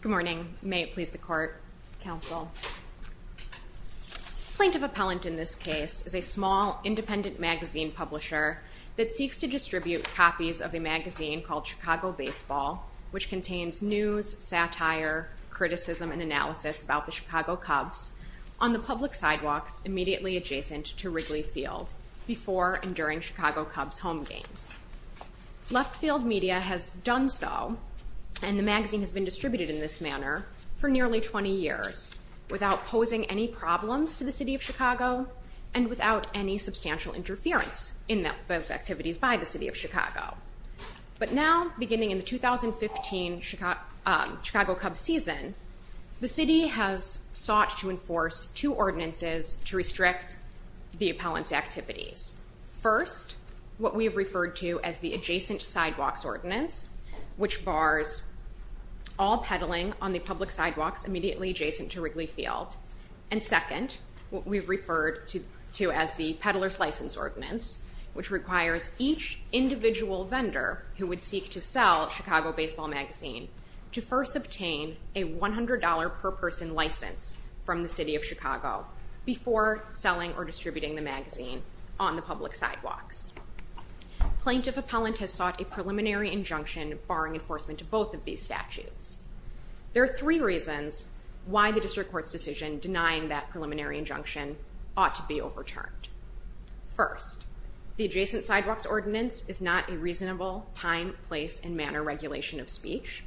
Good morning. May it please the court, counsel. Plaintiff Appellant in this case is a small, independent magazine publisher that seeks to distribute copies of a magazine called Chicago Baseball, which contains news, satire, criticism, and analysis about the Chicago Cubs on the public sidewalks immediately adjacent to Wrigley Field before and during Chicago Cubs' home games. Left Field Media has done so, and the magazine has been distributed in this manner for nearly 20 years without posing any problems to the city of Chicago and without any substantial interference in those activities by the city of Chicago. But now, beginning in the 2015 Chicago Cubs season, the city has sought to enforce two ordinances to restrict the appellant's activities. First, what we have referred to as the adjacent sidewalks ordinance, which bars all pedaling on the public sidewalks immediately adjacent to Wrigley Field. And second, what we've referred to as the peddler's license ordinance, which requires each individual vendor who would seek to sell Chicago Baseball magazine to first obtain a $100 per person license from the city of Chicago before selling or distributing the magazine on the public sidewalks. Plaintiff appellant has sought a preliminary injunction barring enforcement of both of these statutes. There are three reasons why the district court's decision denying that preliminary injunction ought to be overturned. First, the adjacent sidewalks ordinance is not a reasonable time, place, and manner regulation of speech.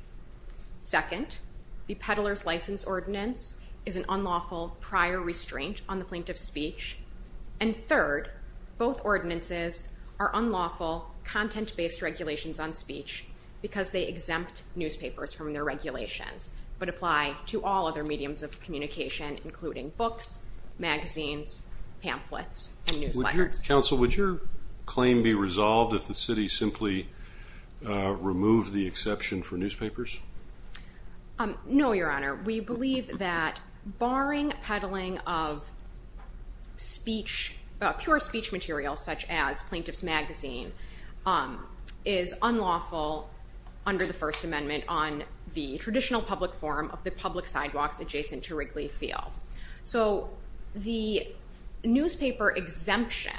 Second, the peddler's license ordinance is an unlawful prior restraint on the plaintiff's speech. And third, both ordinances are unlawful content-based regulations on speech because they exempt newspapers from their regulations, but apply to all other mediums of communication, including books, magazines, pamphlets, and newsletters. Counsel, would your claim be resolved if the city simply removed the exception for newspapers? No, Your Honor. We believe that barring peddling of pure speech material such as Plaintiff's Magazine is unlawful under the First Amendment on the traditional public forum of the public sidewalks adjacent to Wrigley Field. So the newspaper exemption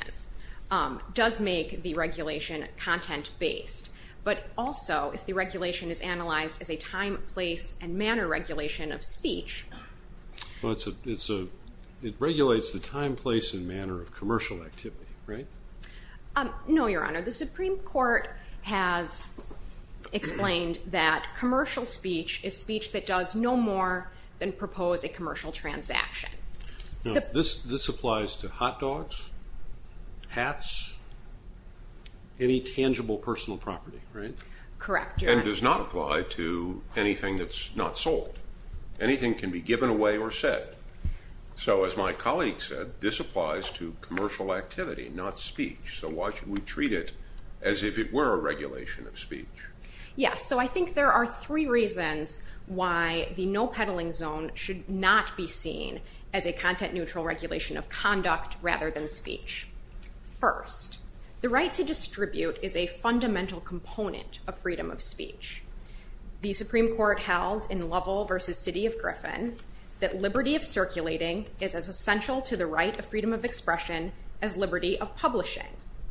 does make the regulation content-based, but also if the regulation is analyzed as a time, place, and manner regulation of speech. It regulates the time, place, and manner of commercial activity, right? No, Your Honor. The Supreme Court has explained that commercial speech is speech that does no more than propose a commercial transaction. This applies to hot dogs, hats, any tangible personal property, right? Correct, Your Honor. And does not apply to anything that's not sold. Anything can be given away or said. So as my colleague said, this applies to commercial activity, not speech. So why should we treat it as if it were a regulation of speech? Yes, so I think there are three reasons why the no peddling zone should not be seen as a content-neutral regulation of conduct rather than speech. First, the right to distribute is a fundamental component of freedom of speech. The Supreme Court held in Lovell v. City of Griffin that liberty of circulating is as essential to the right of freedom of expression as liberty of publishing.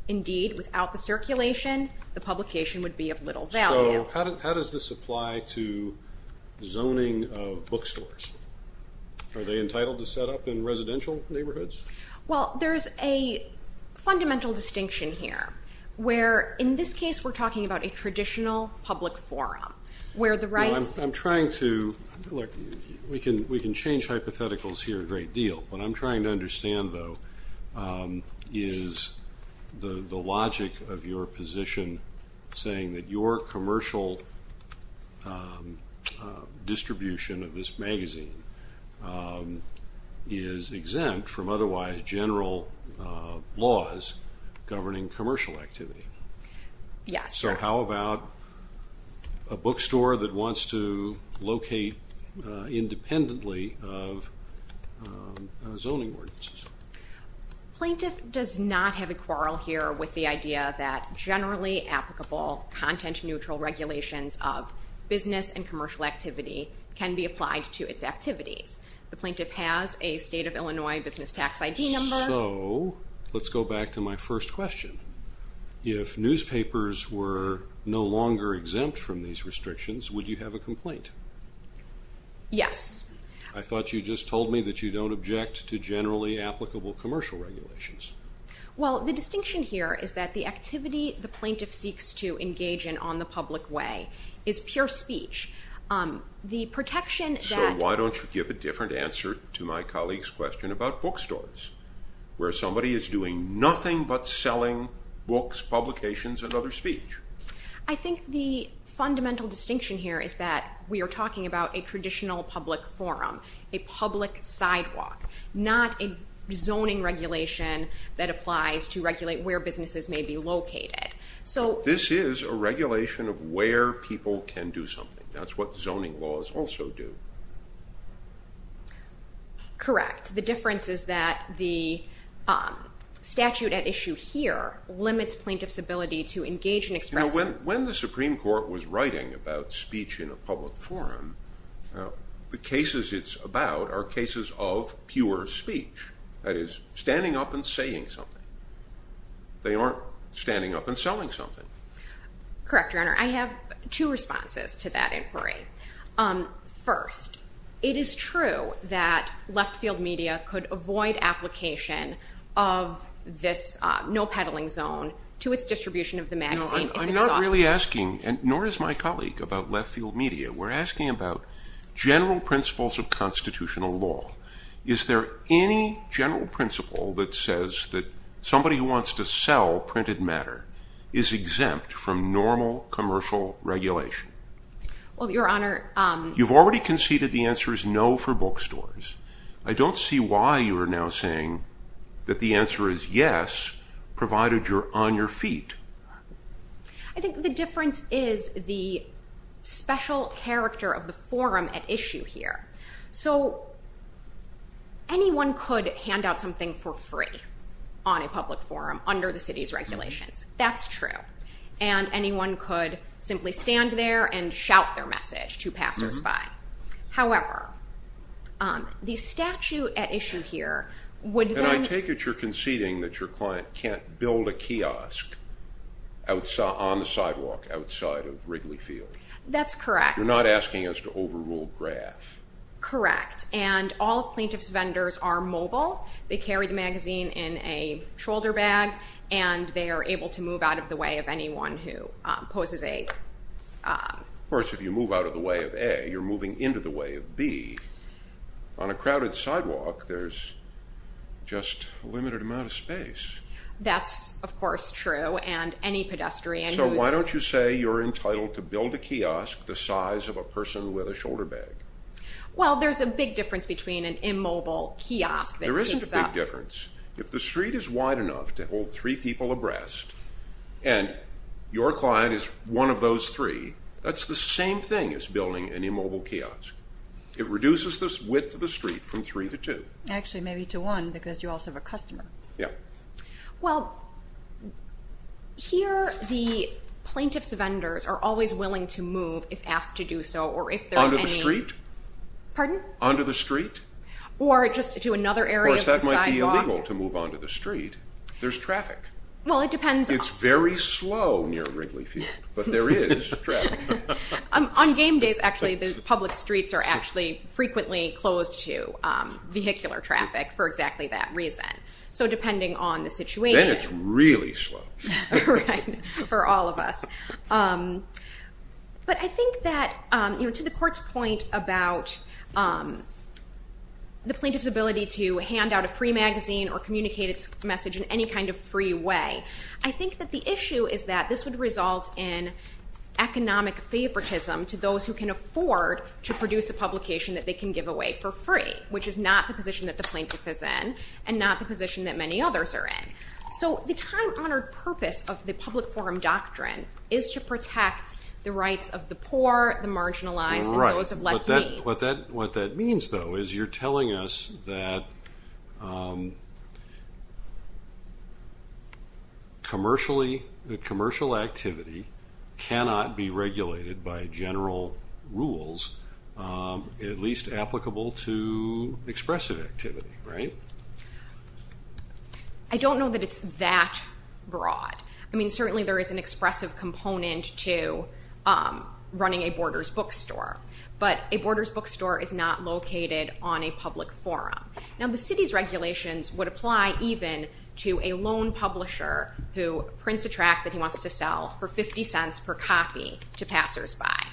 Indeed, without the circulation, the publication would be of little value. So how does this apply to zoning of bookstores? Are they entitled to set up in residential neighborhoods? Well, there's a fundamental distinction here where in this case we're talking about a traditional public forum where the rights I'm trying to, look, we can change hypotheticals here a great deal. What I'm trying to understand, though, is the logic of your position saying that your commercial distribution of this magazine is exempt from otherwise general laws governing commercial activity. Yes. So how about a bookstore that wants to locate independently of zoning ordinances? Plaintiff does not have a quarrel here with the idea that generally applicable content-neutral regulations of business and commercial activity can be applied to its activities. The plaintiff has a state of Illinois business tax ID number. So let's go back to my first question. If newspapers were no longer exempt from these restrictions, would you have a complaint? Yes. I thought you just told me that you don't object to generally applicable commercial regulations. Well, the distinction here is that the activity the plaintiff seeks to engage in on the public way is pure speech. So why don't you give a different answer to my colleague's question about bookstores where somebody is doing nothing but selling books, publications, and other speech? I think the fundamental distinction here is that we are talking about a traditional public forum, a public sidewalk, not a zoning regulation that applies to regulate where businesses may be located. This is a regulation of where people can do something. That's what zoning laws also do. Correct. The difference is that the statute at issue here limits plaintiff's ability to engage and express them. When the Supreme Court was writing about speech in a public forum, the cases it's about are cases of pure speech, that is, standing up and saying something. They aren't standing up and selling something. Correct, Your Honor. I have two responses to that inquiry. First, it is true that left-field media could avoid application of this no-peddling zone to its distribution of the magazine. I'm not really asking, nor is my colleague, about left-field media. We're asking about general principles of constitutional law. Is there any general principle that says that somebody who wants to sell printed matter is exempt from normal commercial regulation? Well, Your Honor. You've already conceded the answer is no for bookstores. I don't see why you are now saying that the answer is yes, provided you're on your feet. I think the difference is the special character of the forum at issue here. So anyone could hand out something for free on a public forum under the city's regulations. That's true. And anyone could simply stand there and shout their message to passersby. However, the statute at issue here would then... And I take it you're conceding that your client can't build a kiosk on the sidewalk outside of Wrigley Field. That's correct. You're not asking us to overrule Graff. Correct. And all plaintiff's vendors are mobile. They carry the magazine in a shoulder bag, and they are able to move out of the way of anyone who poses a... Of course, if you move out of the way of A, you're moving into the way of B. On a crowded sidewalk, there's just a limited amount of space. That's, of course, true, and any pedestrian who's... So why don't you say you're entitled to build a kiosk the size of a person with a shoulder bag? Well, there's a big difference between an immobile kiosk that takes up... There isn't a big difference. If the street is wide enough to hold three people abreast and your client is one of those three, that's the same thing as building an immobile kiosk. It reduces the width of the street from three to two. Actually, maybe to one because you also have a customer. Yeah. Well, here the plaintiff's vendors are always willing to move if asked to do so or if there's any... Pardon? Onto the street. Or just to another area of the sidewalk. Of course, that might be illegal to move onto the street. There's traffic. Well, it depends on... It's very slow near Wrigley Field, but there is traffic. On game days, actually, the public streets are actually frequently closed to vehicular traffic for exactly that reason. So depending on the situation... Then it's really slow. Right, for all of us. But I think that to the court's point about the plaintiff's ability to hand out a free magazine or communicate its message in any kind of free way, I think that the issue is that this would result in economic favoritism to those who can afford to produce a publication that they can give away for free, which is not the position that the plaintiff is in and not the position that many others are in. So the time-honored purpose of the public forum doctrine is to protect the rights of the poor, the marginalized, and those of less means. Right. What that means, though, is you're telling us that commercial activity cannot be regulated by general rules, at least applicable to expressive activity, right? I don't know that it's that broad. I mean, certainly there is an expressive component to running a Borders bookstore, but a Borders bookstore is not located on a public forum. Now, the city's regulations would apply even to a lone publisher who prints a track that he wants to sell for 50 cents per copy to passersby.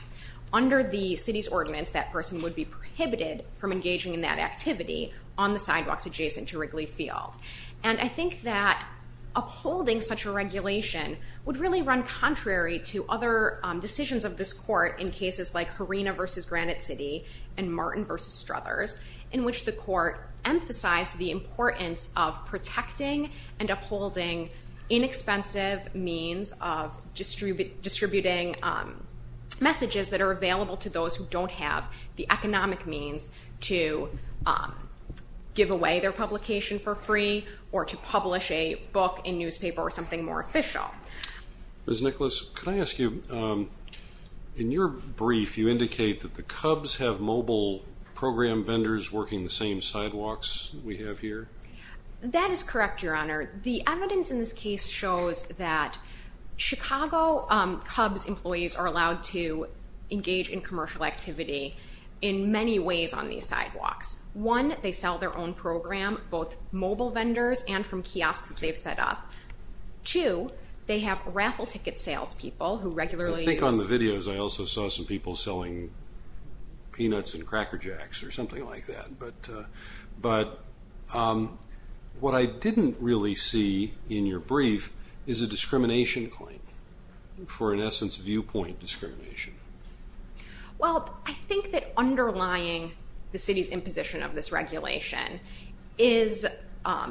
Under the city's ordinance, that person would be prohibited from engaging in that activity on the sidewalks adjacent to Wrigley Field. And I think that upholding such a regulation would really run contrary to other decisions of this court in cases like Harina v. Granite City and Martin v. Struthers, in which the court emphasized the importance of protecting and upholding inexpensive means of distributing messages that are available to those who don't have the economic means to give away their publication for free or to publish a book, a newspaper, or something more official. Ms. Nicholas, could I ask you, in your brief, you indicate that the Cubs have mobile program vendors working the same sidewalks we have here? That is correct, Your Honor. The evidence in this case shows that Chicago Cubs employees are allowed to engage in commercial activity in many ways on these sidewalks. One, they sell their own program, both mobile vendors and from kiosks that they've set up. Two, they have raffle ticket salespeople who regularly use... I think on the videos I also saw some people selling peanuts and Cracker Jacks or something like that. But what I didn't really see in your brief is a discrimination claim for, in essence, viewpoint discrimination. Well, I think that underlying the city's imposition of this regulation is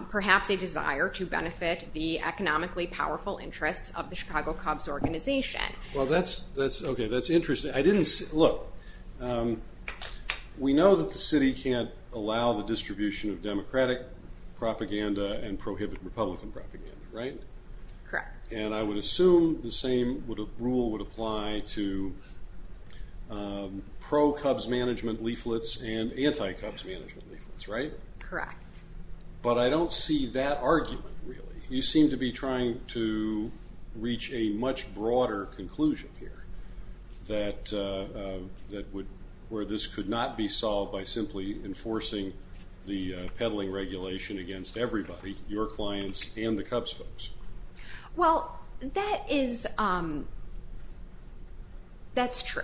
perhaps a desire to benefit the economically powerful interests of the Chicago Cubs organization. Well, that's interesting. Look, we know that the city can't allow the distribution of Democratic propaganda and prohibit Republican propaganda, right? Correct. And I would assume the same rule would apply to pro-Cubs management leaflets and anti-Cubs management leaflets, right? Correct. But I don't see that argument, really. You seem to be trying to reach a much broader conclusion here where this could not be solved by simply enforcing the peddling regulation against everybody, your clients and the Cubs folks. Well, that's true,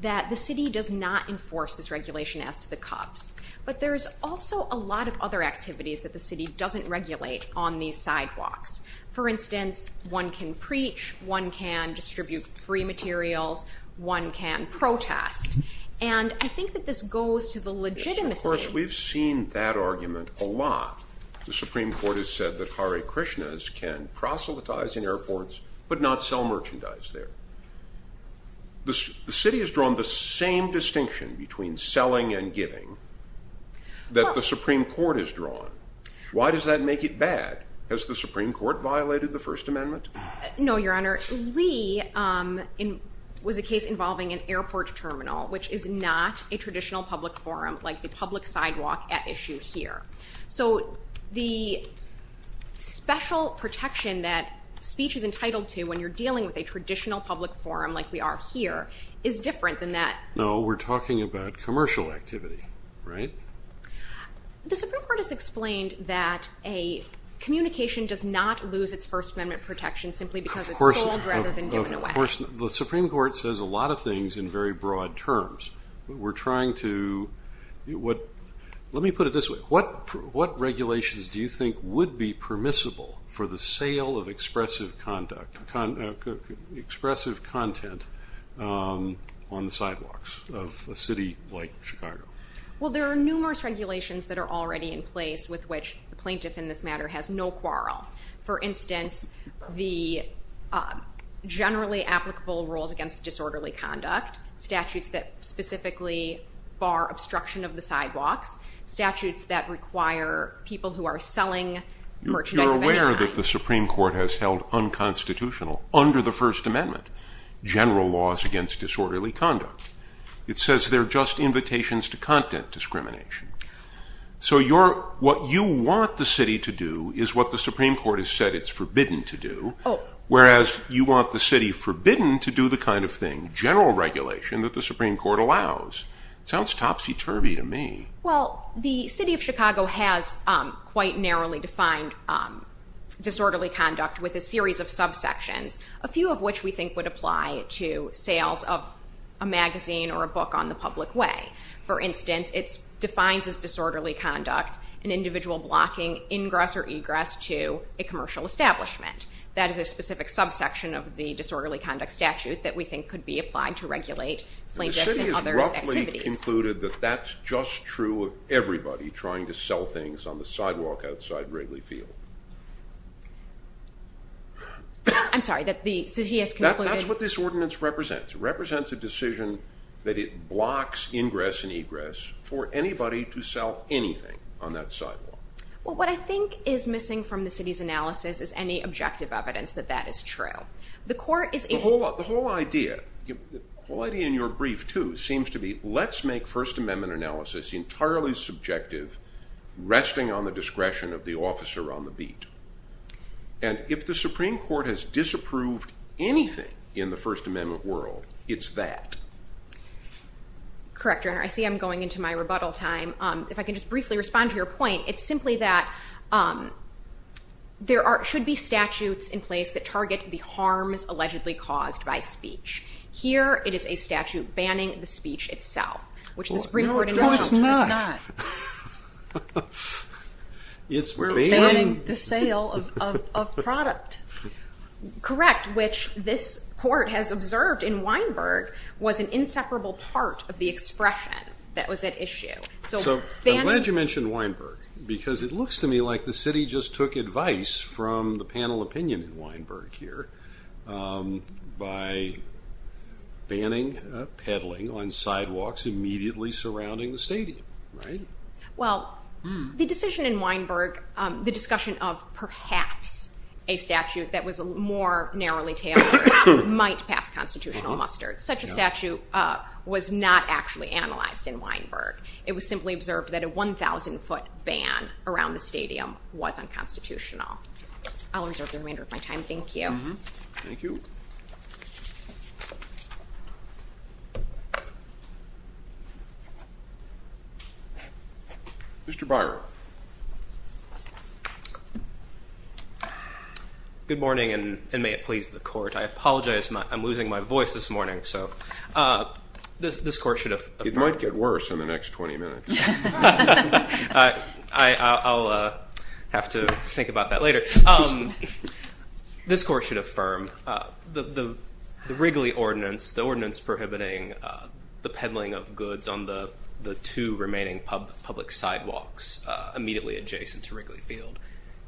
that the city does not enforce this regulation as to the Cubs. But there's also a lot of other activities that the city doesn't regulate on these sidewalks. For instance, one can preach, one can distribute free materials, one can protest. And I think that this goes to the legitimacy... Of course, we've seen that argument a lot. The Supreme Court has said that Hare Krishnas can proselytize in airports but not sell merchandise there. The city has drawn the same distinction between selling and giving that the Supreme Court has drawn. Why does that make it bad? Has the Supreme Court violated the First Amendment? No, Your Honor. Lee was a case involving an airport terminal, which is not a traditional public forum like the public sidewalk at issue here. So the special protection that speech is entitled to when you're dealing with a traditional public forum like we are here is different than that. No, we're talking about commercial activity, right? The Supreme Court has explained that a communication does not lose its First Amendment protection simply because it's sold rather than given away. Of course, the Supreme Court says a lot of things in very broad terms. We're trying to... Let me put it this way. What regulations do you think would be permissible for the sale of expressive content on the sidewalks of a city like Chicago? Well, there are numerous regulations that are already in place with which the plaintiff in this matter has no quarrel. For instance, the generally applicable rules against disorderly conduct, statutes that specifically bar obstruction of the sidewalks, statutes that require people who are selling merchandise... You're aware that the Supreme Court has held unconstitutional under the First Amendment general laws against disorderly conduct. It says they're just invitations to content discrimination. So what you want the city to do is what the Supreme Court has said it's forbidden to do, whereas you want the city forbidden to do the kind of thing, general regulation, that the Supreme Court allows. Sounds topsy-turvy to me. Well, the city of Chicago has quite narrowly defined disorderly conduct with a series of subsections, a few of which we think would apply to sales of a magazine or a book on the public way. For instance, it defines as disorderly conduct an individual blocking ingress or egress to a commercial establishment. That is a specific subsection of the disorderly conduct statute that we think could be applied to regulate plaintiffs and others' activities. The city has roughly concluded that that's just true of everybody trying to sell things on the sidewalk outside Wrigley Field. I'm sorry, the city has concluded... That's what this ordinance represents. It represents a decision that it blocks ingress and egress for anybody to sell anything on that sidewalk. Well, what I think is missing from the city's analysis is any objective evidence that that is true. The whole idea in your brief, too, seems to be let's make First Amendment analysis entirely subjective, resting on the discretion of the officer on the beat. If the Supreme Court has disapproved anything in the First Amendment world, it's that. Correct, Your Honor. I see I'm going into my rebuttal time. If I can just briefly respond to your point, it's simply that there should be statutes in place that target the harms allegedly caused by speech. Here, it is a statute banning the speech itself, which the Supreme Court... No, it's not. It's banning... It's banning the sale of product. Correct, which this court has observed in Weinberg was an inseparable part of the expression that was at issue. I'm glad you mentioned Weinberg, because it looks to me like the city just took advice from the panel opinion in Weinberg here by banning peddling on sidewalks immediately surrounding the stadium, right? Well, the decision in Weinberg, the discussion of perhaps a statute that was more narrowly tailored might pass constitutional muster. Such a statute was not actually analyzed in Weinberg. It was simply observed that a 1,000-foot ban around the stadium was unconstitutional. I'll reserve the remainder of my time. Thank you. Thank you. Mr. Breyer. Good morning, and may it please the court. I apologize. I'm losing my voice this morning, so this court should... It might get worse in the next 20 minutes. I'll have to think about that later. This court should affirm the Wrigley Ordinance, the ordinance prohibiting the peddling of goods on the two remaining public sidewalks immediately adjacent to Wrigley Field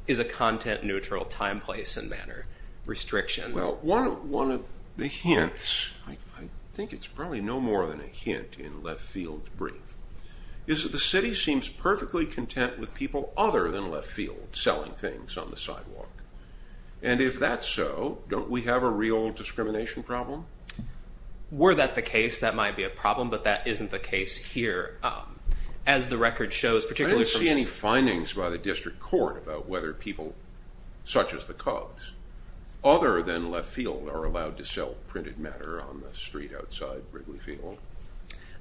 is a content-neutral time, place, and manner restriction. Well, one of the hints, I think it's probably no more than a hint in Left Field's brief, is that the city seems perfectly content with people other than Left Field selling things on the sidewalk. And if that's so, don't we have a real discrimination problem? Were that the case, that might be a problem, but that isn't the case here. I don't see any findings by the district court about whether people such as the Cubs, other than Left Field, are allowed to sell printed matter on the street outside Wrigley Field.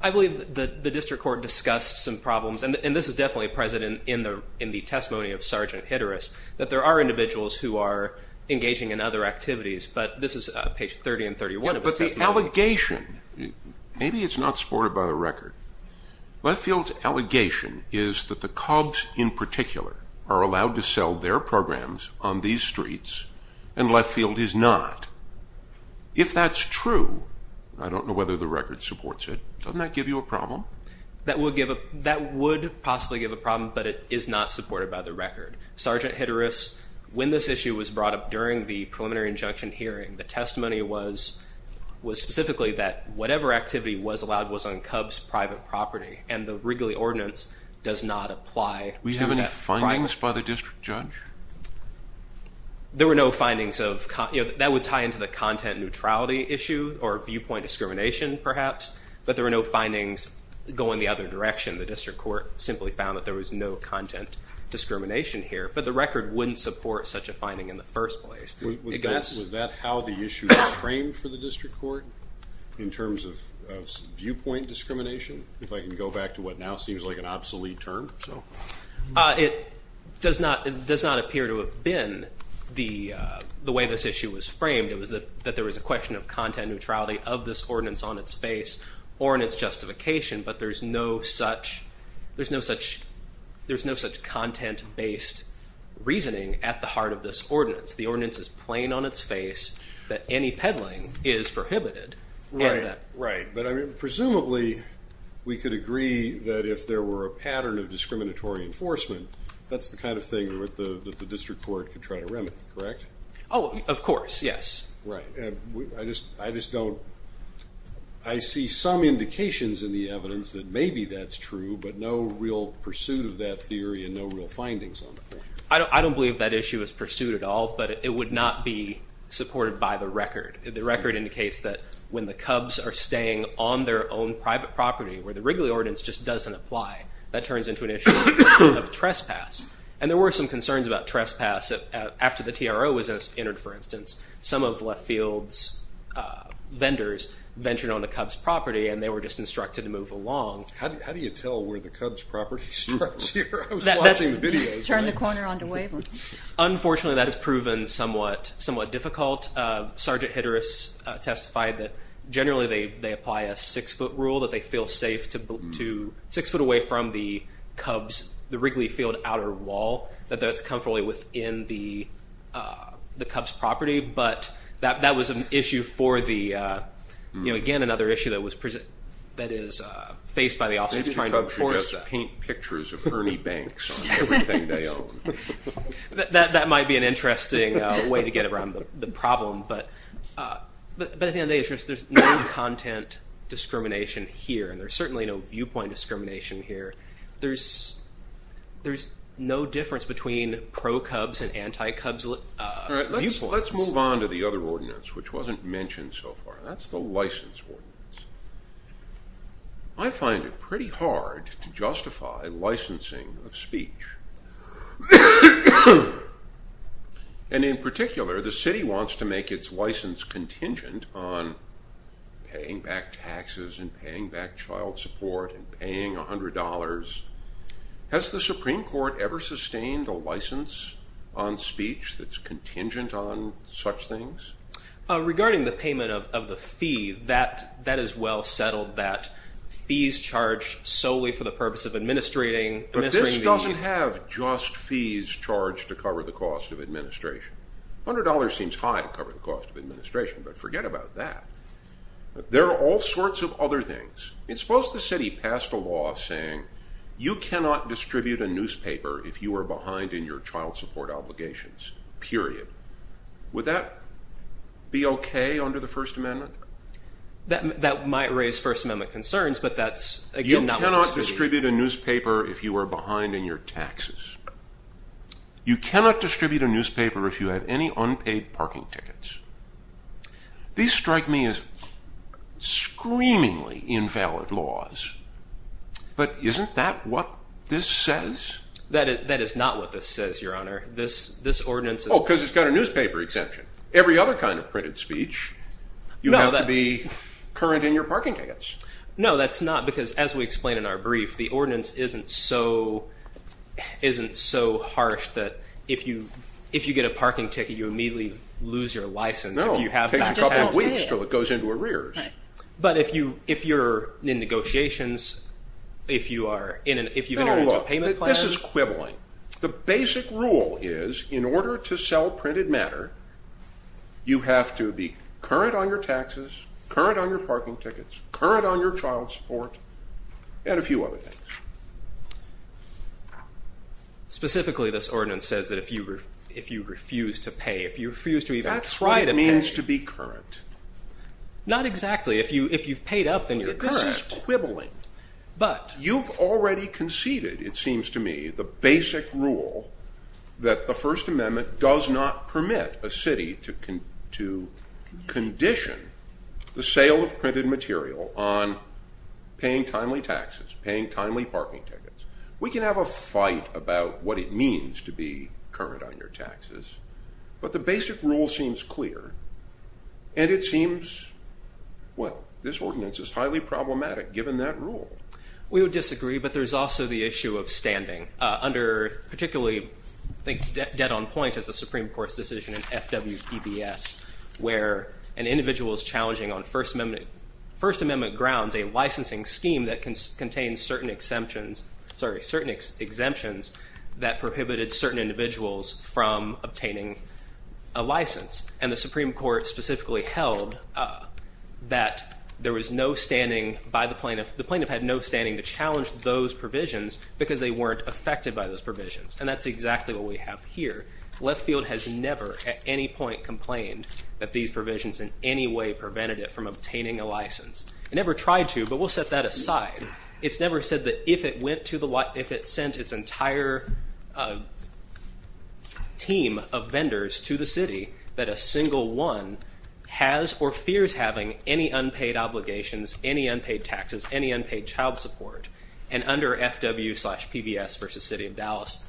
I believe the district court discussed some problems, and this is definitely present in the testimony of Sergeant Hitterus, that there are individuals who are engaging in other activities, but this is page 30 and 31 of his testimony. The allegation, maybe it's not supported by the record, Left Field's allegation is that the Cubs in particular are allowed to sell their programs on these streets, and Left Field is not. If that's true, I don't know whether the record supports it, doesn't that give you a problem? That would possibly give a problem, but it is not supported by the record. Sergeant Hitterus, when this issue was brought up during the preliminary injunction hearing, the testimony was specifically that whatever activity was allowed was on Cubs' private property, and the Wrigley ordinance does not apply to that. Do we have any findings by the district judge? There were no findings of, that would tie into the content neutrality issue, or viewpoint discrimination perhaps, but there were no findings going the other direction. The district court simply found that there was no content discrimination here, but the record wouldn't support such a finding in the first place. Was that how the issue was framed for the district court, in terms of viewpoint discrimination, if I can go back to what now seems like an obsolete term? It does not appear to have been the way this issue was framed. It was that there was a question of content neutrality of this ordinance on its face, or in its justification, but there's no such content-based reasoning at the heart of this ordinance. The ordinance is plain on its face that any peddling is prohibited. Presumably, we could agree that if there were a pattern of discriminatory enforcement, that's the kind of thing that the district court could try to remedy, correct? Of course, yes. I see some indications in the evidence that maybe that's true, but no real pursuit of that theory, and no real findings on the issue. I don't believe that issue is pursued at all, but it would not be supported by the record. The record indicates that when the Cubs are staying on their own private property, where the Wrigley Ordinance just doesn't apply, that turns into an issue of trespass. And there were some concerns about trespass. After the TRO was entered, for instance, some of Left Field's vendors ventured onto Cubs' property, and they were just instructed to move along. How do you tell where the Cubs' property starts here? I was watching the videos. Turn the corner onto Waveland. Unfortunately, that's proven somewhat difficult. Sergeant Hedris testified that generally they apply a six-foot rule, that they feel safe six foot away from the Cubs, the Wrigley Field outer wall, that that's comfortably within the Cubs' property. But that was an issue for the, again, another issue that is faced by the officers trying to enforce that. They paint pictures of Ernie Banks on everything they own. That might be an interesting way to get around the problem. But at the end of the day, there's no content discrimination here, and there's certainly no viewpoint discrimination here. There's no difference between pro-Cubs and anti-Cubs viewpoints. Let's move on to the other ordinance, which wasn't mentioned so far. That's the License Ordinance. I find it pretty hard to justify licensing of speech. And in particular, the city wants to make its license contingent on paying back taxes and paying back child support and paying $100. Has the Supreme Court ever sustained a license on speech that's contingent on such things? Regarding the payment of the fee, that is well settled, that fees charged solely for the purpose of administrating. But this doesn't have just fees charged to cover the cost of administration. $100 seems high to cover the cost of administration, but forget about that. There are all sorts of other things. Suppose the city passed a law saying you cannot distribute a newspaper if you are behind in your child support obligations, period. Would that be okay under the First Amendment? That might raise First Amendment concerns, but that's, again, not what the city... You cannot distribute a newspaper if you are behind in your taxes. You cannot distribute a newspaper if you have any unpaid parking tickets. These strike me as screamingly invalid laws, but isn't that what this says? That is not what this says, Your Honor. Oh, because it's got a newspaper exemption. Every other kind of printed speech, you have to be current in your parking tickets. No, that's not because, as we explained in our brief, the ordinance isn't so harsh that if you get a parking ticket, you immediately lose your license. No, it takes a couple of weeks until it goes into arrears. But if you're in negotiations, if you've entered into a payment plan... This is quibbling. The basic rule is in order to sell printed matter, you have to be current on your taxes, current on your parking tickets, current on your child support, and a few other things. Specifically, this ordinance says that if you refuse to pay, if you refuse to even try to pay... That's what it means to be current. Not exactly. If you've paid up, then you're current. This is quibbling. But... You've already conceded, it seems to me, the basic rule that the First Amendment does not permit a city to condition the sale of printed material on paying timely taxes, paying timely parking tickets. We can have a fight about what it means to be current on your taxes, but the basic rule seems clear, and it seems... Well, this ordinance is highly problematic, given that rule. We would disagree, but there's also the issue of standing. Particularly, I think dead on point is the Supreme Court's decision in FWPBS, where an individual is challenging on First Amendment grounds a licensing scheme that contains certain exemptions that prohibited certain individuals from obtaining a license. And the Supreme Court specifically held that there was no standing by the plaintiff. The plaintiff had no standing to challenge those provisions, because they weren't affected by those provisions. And that's exactly what we have here. Leftfield has never at any point complained that these provisions in any way prevented it from obtaining a license. It never tried to, but we'll set that aside. It's never said that if it sent its entire team of vendors to the city, that a single one has or fears having any unpaid obligations, any unpaid taxes, any unpaid child support. And under FWPBS versus City of Dallas,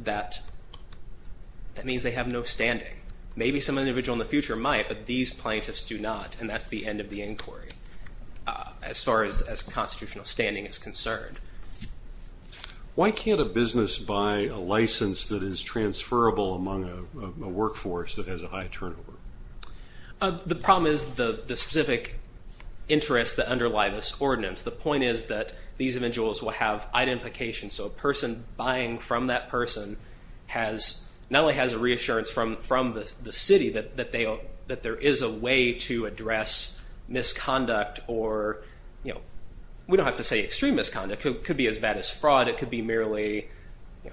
that means they have no standing. Maybe some individual in the future might, but these plaintiffs do not. And that's the end of the inquiry, as far as constitutional standing is concerned. Why can't a business buy a license that is transferable among a workforce that has a high turnover? The problem is the specific interests that underlie this ordinance. The point is that these individuals will have identification. So a person buying from that person not only has a reassurance from the city that there is a way to address misconduct. We don't have to say extreme misconduct. It could be as bad as fraud. It could be merely,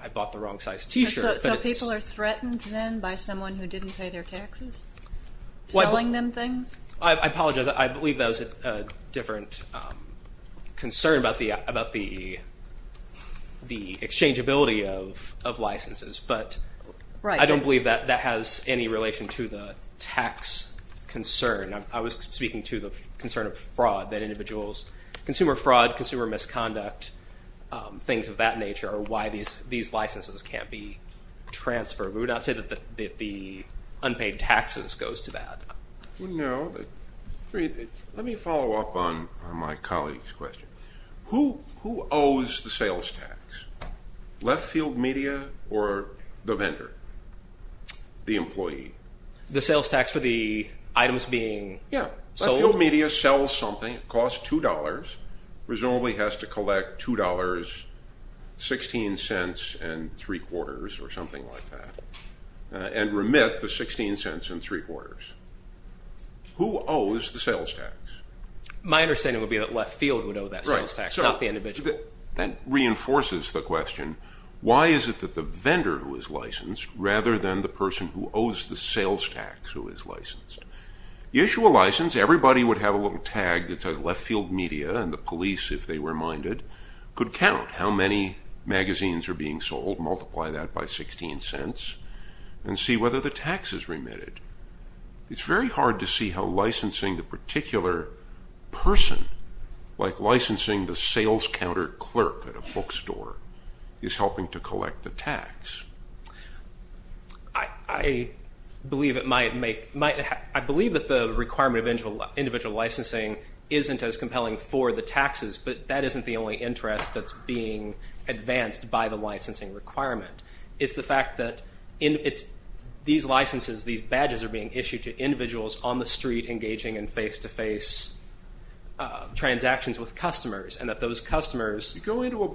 I bought the wrong size T-shirt. So people are threatened then by someone who didn't pay their taxes selling them things? I apologize. I believe that was a different concern about the exchangeability of licenses. But I don't believe that that has any relation to the tax concern. I was speaking to the concern of fraud, that individuals, consumer fraud, consumer misconduct, things of that nature, are why these licenses can't be transferred. We would not say that the unpaid taxes goes to that. No. Let me follow up on my colleague's question. Who owes the sales tax? Leftfield Media or the vendor, the employee? The sales tax for the items being sold? Yeah. Leftfield Media sells something. It costs $2. Presumably has to collect $2.16.75 or something like that and remit the $.16.75. Who owes the sales tax? My understanding would be that Leftfield would owe that sales tax, not the individual. That reinforces the question. Why is it that the vendor who is licensed rather than the person who owes the sales tax who is licensed? You issue a license. Everybody would have a little tag that says Leftfield Media and the police, if they were minded, could count how many magazines are being sold, multiply that by $.16, and see whether the tax is remitted. It's very hard to see how licensing the particular person, like licensing the sales counter clerk at a bookstore, is helping to collect the tax. I believe that the requirement of individual licensing isn't as compelling for the taxes, but that isn't the only interest that's being advanced by the licensing requirement. It's the fact that these licenses, these badges, are being issued to individuals on the street engaging in face-to-face transactions with customers, and that those customers… You're dealing with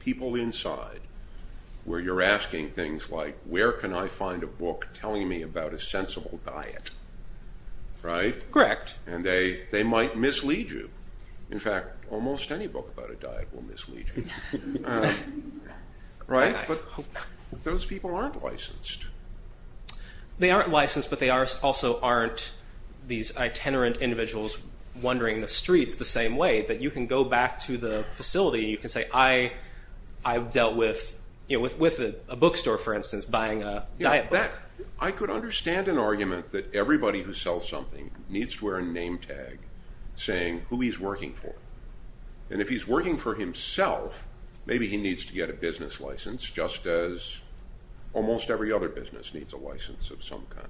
people inside where you're asking things like, where can I find a book telling me about a sensible diet? Correct. And they might mislead you. In fact, almost any book about a diet will mislead you. Right? But those people aren't licensed. They aren't licensed, but they also aren't these itinerant individuals wandering the streets the same way, that you can go back to the facility and you can say, I've dealt with a bookstore, for instance, buying a diet book. I could understand an argument that everybody who sells something needs to wear a name tag saying who he's working for. And if he's working for himself, maybe he needs to get a business license, just as almost every other business needs a license of some kind.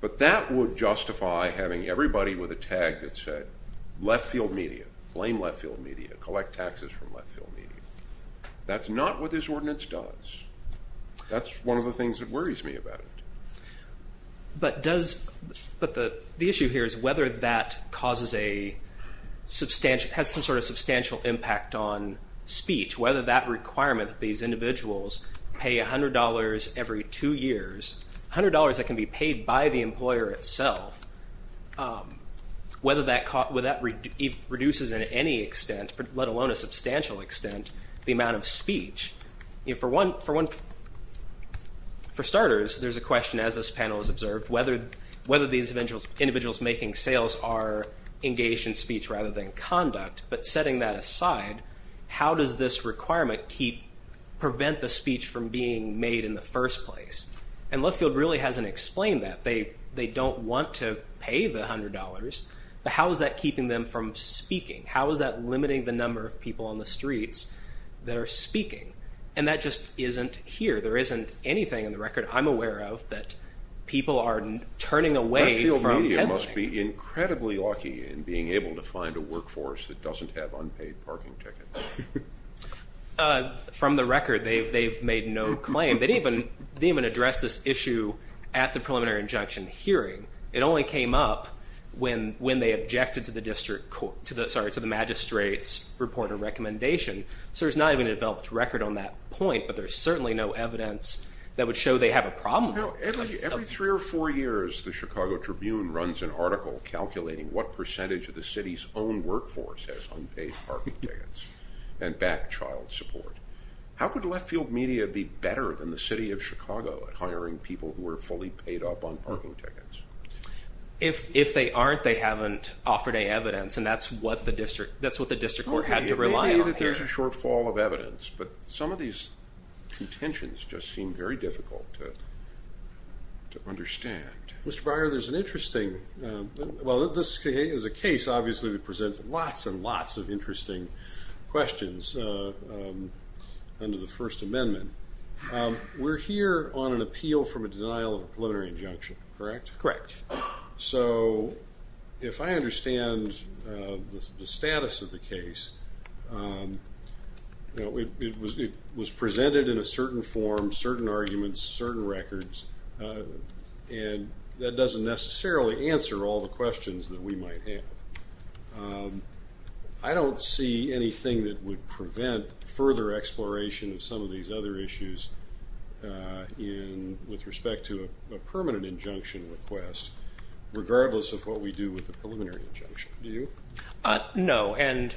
But that would justify having everybody with a tag that said left-field media, blame left-field media, collect taxes from left-field media. That's not what this ordinance does. That's one of the things that worries me about it. But the issue here is whether that has some sort of substantial impact on speech, whether that requirement that these individuals pay $100 every two years, $100 that can be paid by the employer itself, whether that reduces in any extent, let alone a substantial extent, the amount of speech. For starters, there's a question, as this panel has observed, whether these individuals making sales are engaged in speech rather than conduct. But setting that aside, how does this requirement prevent the speech from being made in the first place? And left-field really hasn't explained that. They don't want to pay the $100. But how is that keeping them from speaking? How is that limiting the number of people on the streets that are speaking? And that just isn't here. There isn't anything in the record I'm aware of that people are turning away from. Left-field media must be incredibly lucky in being able to find a workforce that doesn't have unpaid parking tickets. From the record, they've made no claim. They didn't even address this issue at the preliminary injunction hearing. It only came up when they objected to the magistrate's report and recommendation. So there's not even a developed record on that point, but there's certainly no evidence that would show they have a problem with it. Every three or four years, the Chicago Tribune runs an article calculating what percentage of the city's own workforce has unpaid parking tickets and back child support. How could left-field media be better than the city of Chicago at hiring people who are fully paid up on parking tickets? If they aren't, they haven't offered any evidence, and that's what the district court had to rely on. Maybe there's a shortfall of evidence, but some of these contentions just seem very difficult to understand. Mr. Breyer, this is a case that presents lots and lots of interesting questions under the First Amendment. We're here on an appeal from a denial of a preliminary injunction, correct? Correct. If I understand the status of the case, it was presented in a certain form, certain arguments, certain records, and that doesn't necessarily answer all the questions that we might have. I don't see anything that would prevent further exploration of some of these other issues with respect to a permanent injunction request, regardless of what we do with the preliminary injunction. Do you? No, and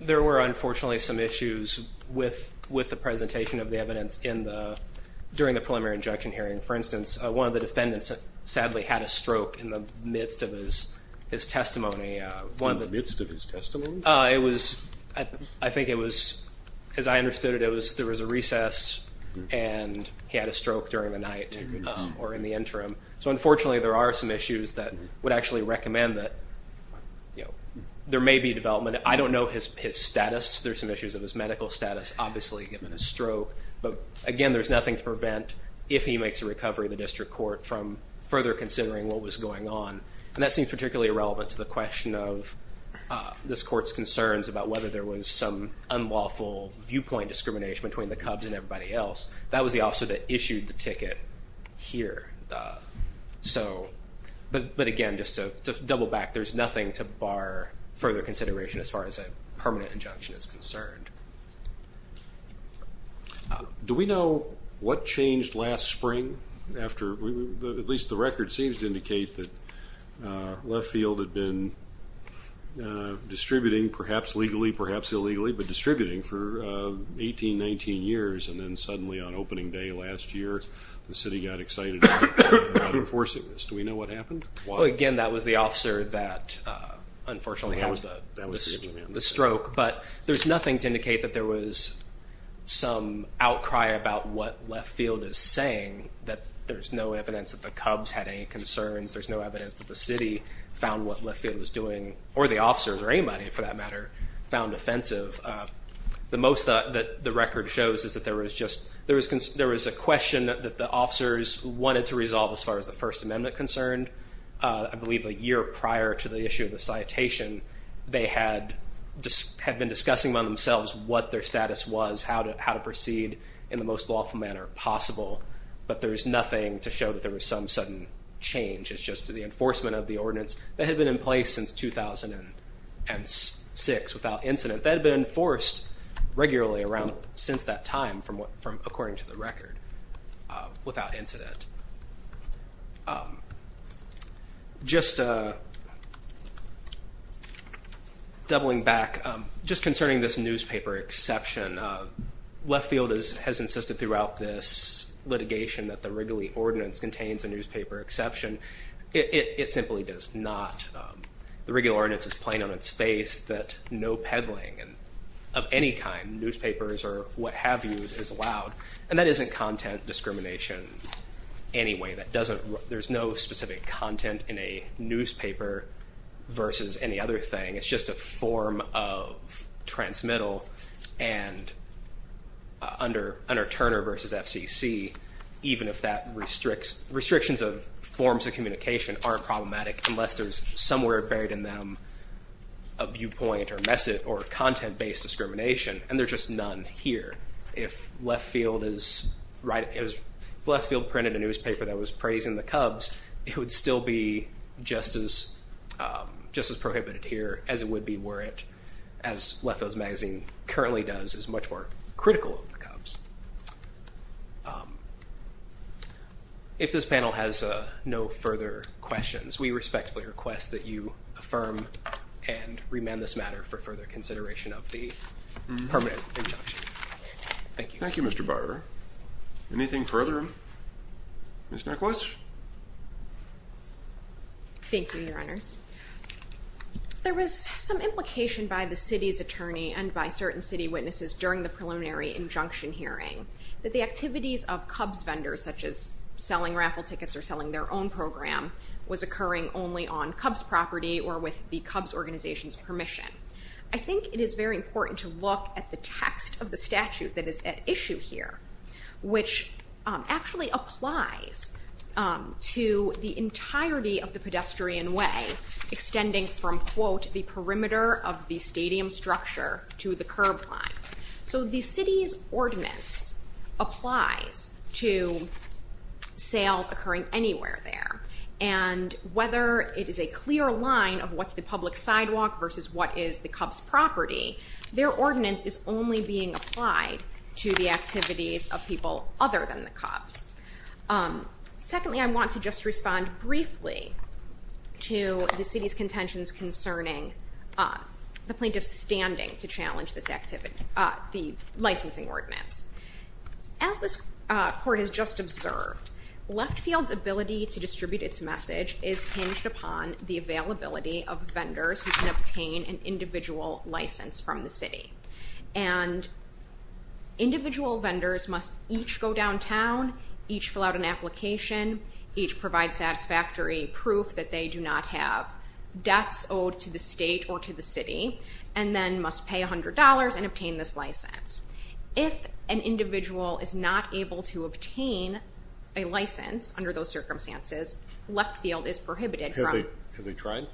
there were unfortunately some issues with the presentation of the evidence during the preliminary injunction hearing. For instance, one of the defendants sadly had a stroke in the midst of his testimony. In the midst of his testimony? I think it was, as I understood it, there was a recess and he had a stroke during the night or in the interim. So unfortunately, there are some issues that would actually recommend that there may be development. I don't know his status. There are some issues of his medical status, obviously, given his stroke. But again, there's nothing to prevent, if he makes a recovery, the district court from further considering what was going on. And that seems particularly relevant to the question of this court's concerns about whether there was some unlawful viewpoint discrimination between the Cubs and everybody else. That was the officer that issued the ticket here. But again, just to double back, there's nothing to bar further consideration as far as a permanent injunction is concerned. Do we know what changed last spring? At least the record seems to indicate that left field had been distributing, perhaps legally, perhaps illegally, but distributing for 18, 19 years. And then suddenly on opening day last year, the city got excited about enforcing this. Do we know what happened? Again, that was the officer that, unfortunately, had the stroke. But there's nothing to indicate that there was some outcry about what left field is saying, that there's no evidence that the Cubs had any concerns, there's no evidence that the city found what left field was doing, or the officers or anybody, for that matter, found offensive. The most that the record shows is that there was a question that the officers wanted to resolve as far as the First Amendment concerned. I believe a year prior to the issue of the citation, they had been discussing among themselves what their status was, how to proceed in the most lawful manner possible. But there's nothing to show that there was some sudden change. It's just the enforcement of the ordinance that had been in place since 2006 without incident. That had been enforced regularly around since that time, according to the record, without incident. Just doubling back, just concerning this newspaper exception, left field has insisted throughout this litigation that the Wrigley Ordinance contains a newspaper exception. It simply does not. The Wrigley Ordinance is plain on its face that no peddling of any kind, newspapers or what have you, is allowed. And that isn't content discrimination anyway. There's no specific content in a newspaper versus any other thing. It's just a form of transmittal. And under Turner v. FCC, even if that restricts, restrictions of forms of communication aren't problematic unless there's somewhere buried in them a viewpoint or content-based discrimination. And there's just none here. If left field printed a newspaper that was praising the Cubs, it would still be just as prohibited here as it would be were it, as left field's magazine currently does, is much more critical of the Cubs. If this panel has no further questions, we respectfully request that you affirm and remand this matter for further consideration of the permanent injunction. Thank you. Thank you, Mr. Barber. Anything further? Ms. Nicklaus? Thank you, Your Honors. There was some implication by the city's attorney and by certain city witnesses during the preliminary injunction hearing that the activities of Cubs vendors, such as selling raffle tickets or selling their own program, was occurring only on Cubs property or with the Cubs organization's permission. I think it is very important to look at the text of the statute that is at issue here, which actually applies to the entirety of the pedestrian way, extending from, quote, the perimeter of the stadium structure to the curb line. So the city's ordinance applies to sales occurring anywhere there, and whether it is a clear line of what's the public sidewalk versus what is the Cubs property, their ordinance is only being applied to the activities of people other than the Cubs. Secondly, I want to just respond briefly to the city's contentions concerning the plaintiff's standing to challenge this activity, the licensing ordinance. As this court has just observed, Leftfield's ability to distribute its message is hinged upon the availability of vendors who can obtain an individual license from the city. And individual vendors must each go downtown, each fill out an application, each provide satisfactory proof that they do not have debts owed to the state or to the city, and then must pay $100 and obtain this license. If an individual is not able to obtain a license under those circumstances, Leftfield is prohibited from... Have they tried?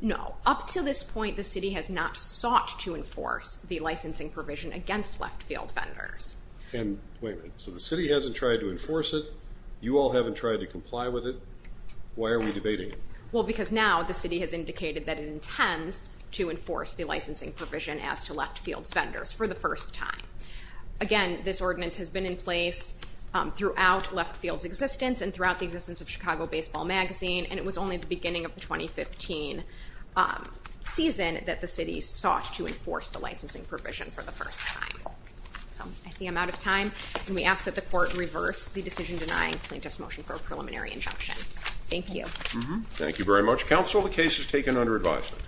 No. Up to this point, the city has not sought to enforce the licensing provision against Leftfield vendors. And wait a minute. So the city hasn't tried to enforce it. You all haven't tried to comply with it. Why are we debating it? Well, because now the city has indicated that it intends to enforce the licensing provision as to Leftfield's vendors. For the first time. Again, this ordinance has been in place throughout Leftfield's existence and throughout the existence of Chicago Baseball Magazine, and it was only at the beginning of the 2015 season that the city sought to enforce the licensing provision for the first time. So I see I'm out of time. And we ask that the court reverse the decision denying plaintiff's motion for a preliminary injunction. Thank you. Thank you very much. Counsel, the case is taken under advisement.